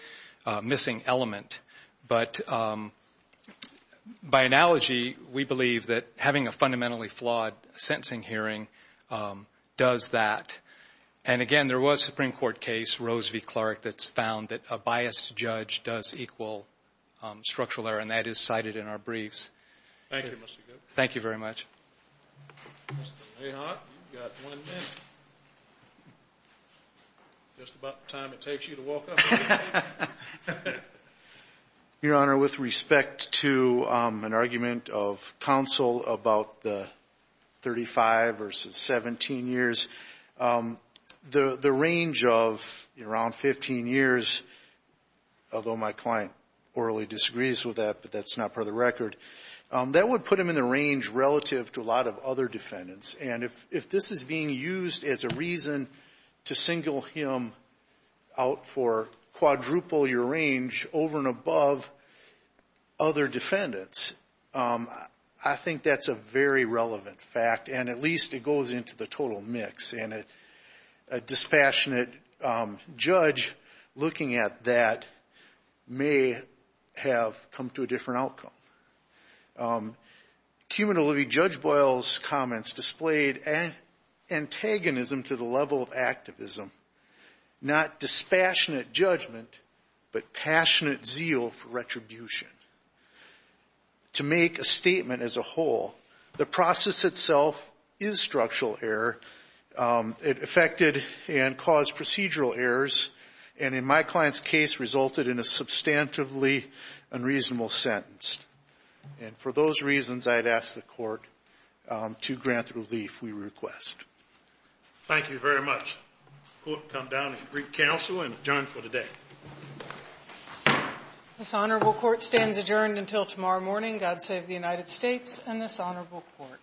a missing element. But by analogy, we believe that having a fundamentally flawed sentencing hearing does that. And again, there was a Supreme Court case, Rose v. Clark, that's found that a biased judge does equal structural error, and that is cited in our briefs. Thank you, Mr. Goode. Thank you very much. Mr. Mahon, you've got one minute. Just about the time it takes you to walk up here. Your Honor, with respect to an argument of counsel about the 35 v. 17 years, the range of around 15 years, although my client orally disagrees with that, but that's not part of the record, that would put him in the range relative to a lot of other defendants. And if this is being used as a reason to single him out for quadruple your range over and above other defendants, I think that's a very relevant fact, and at least it goes into the total mix. And a dispassionate judge looking at that may have come to a different outcome. Cuman O'Leary, Judge Boyle's comments displayed antagonism to the level of activism, not dispassionate judgment, but passionate zeal for retribution. To make a statement as a whole, the process itself is structural error. It affected and caused procedural errors and, in my client's case, resulted in a substantively unreasonable sentence. And for those reasons, I'd ask the Court to grant the relief we request. Thank you very much. The Court will come down and greet counsel and adjourn for today. This honorable Court stands adjourned until tomorrow morning. God save the United States and this honorable Court.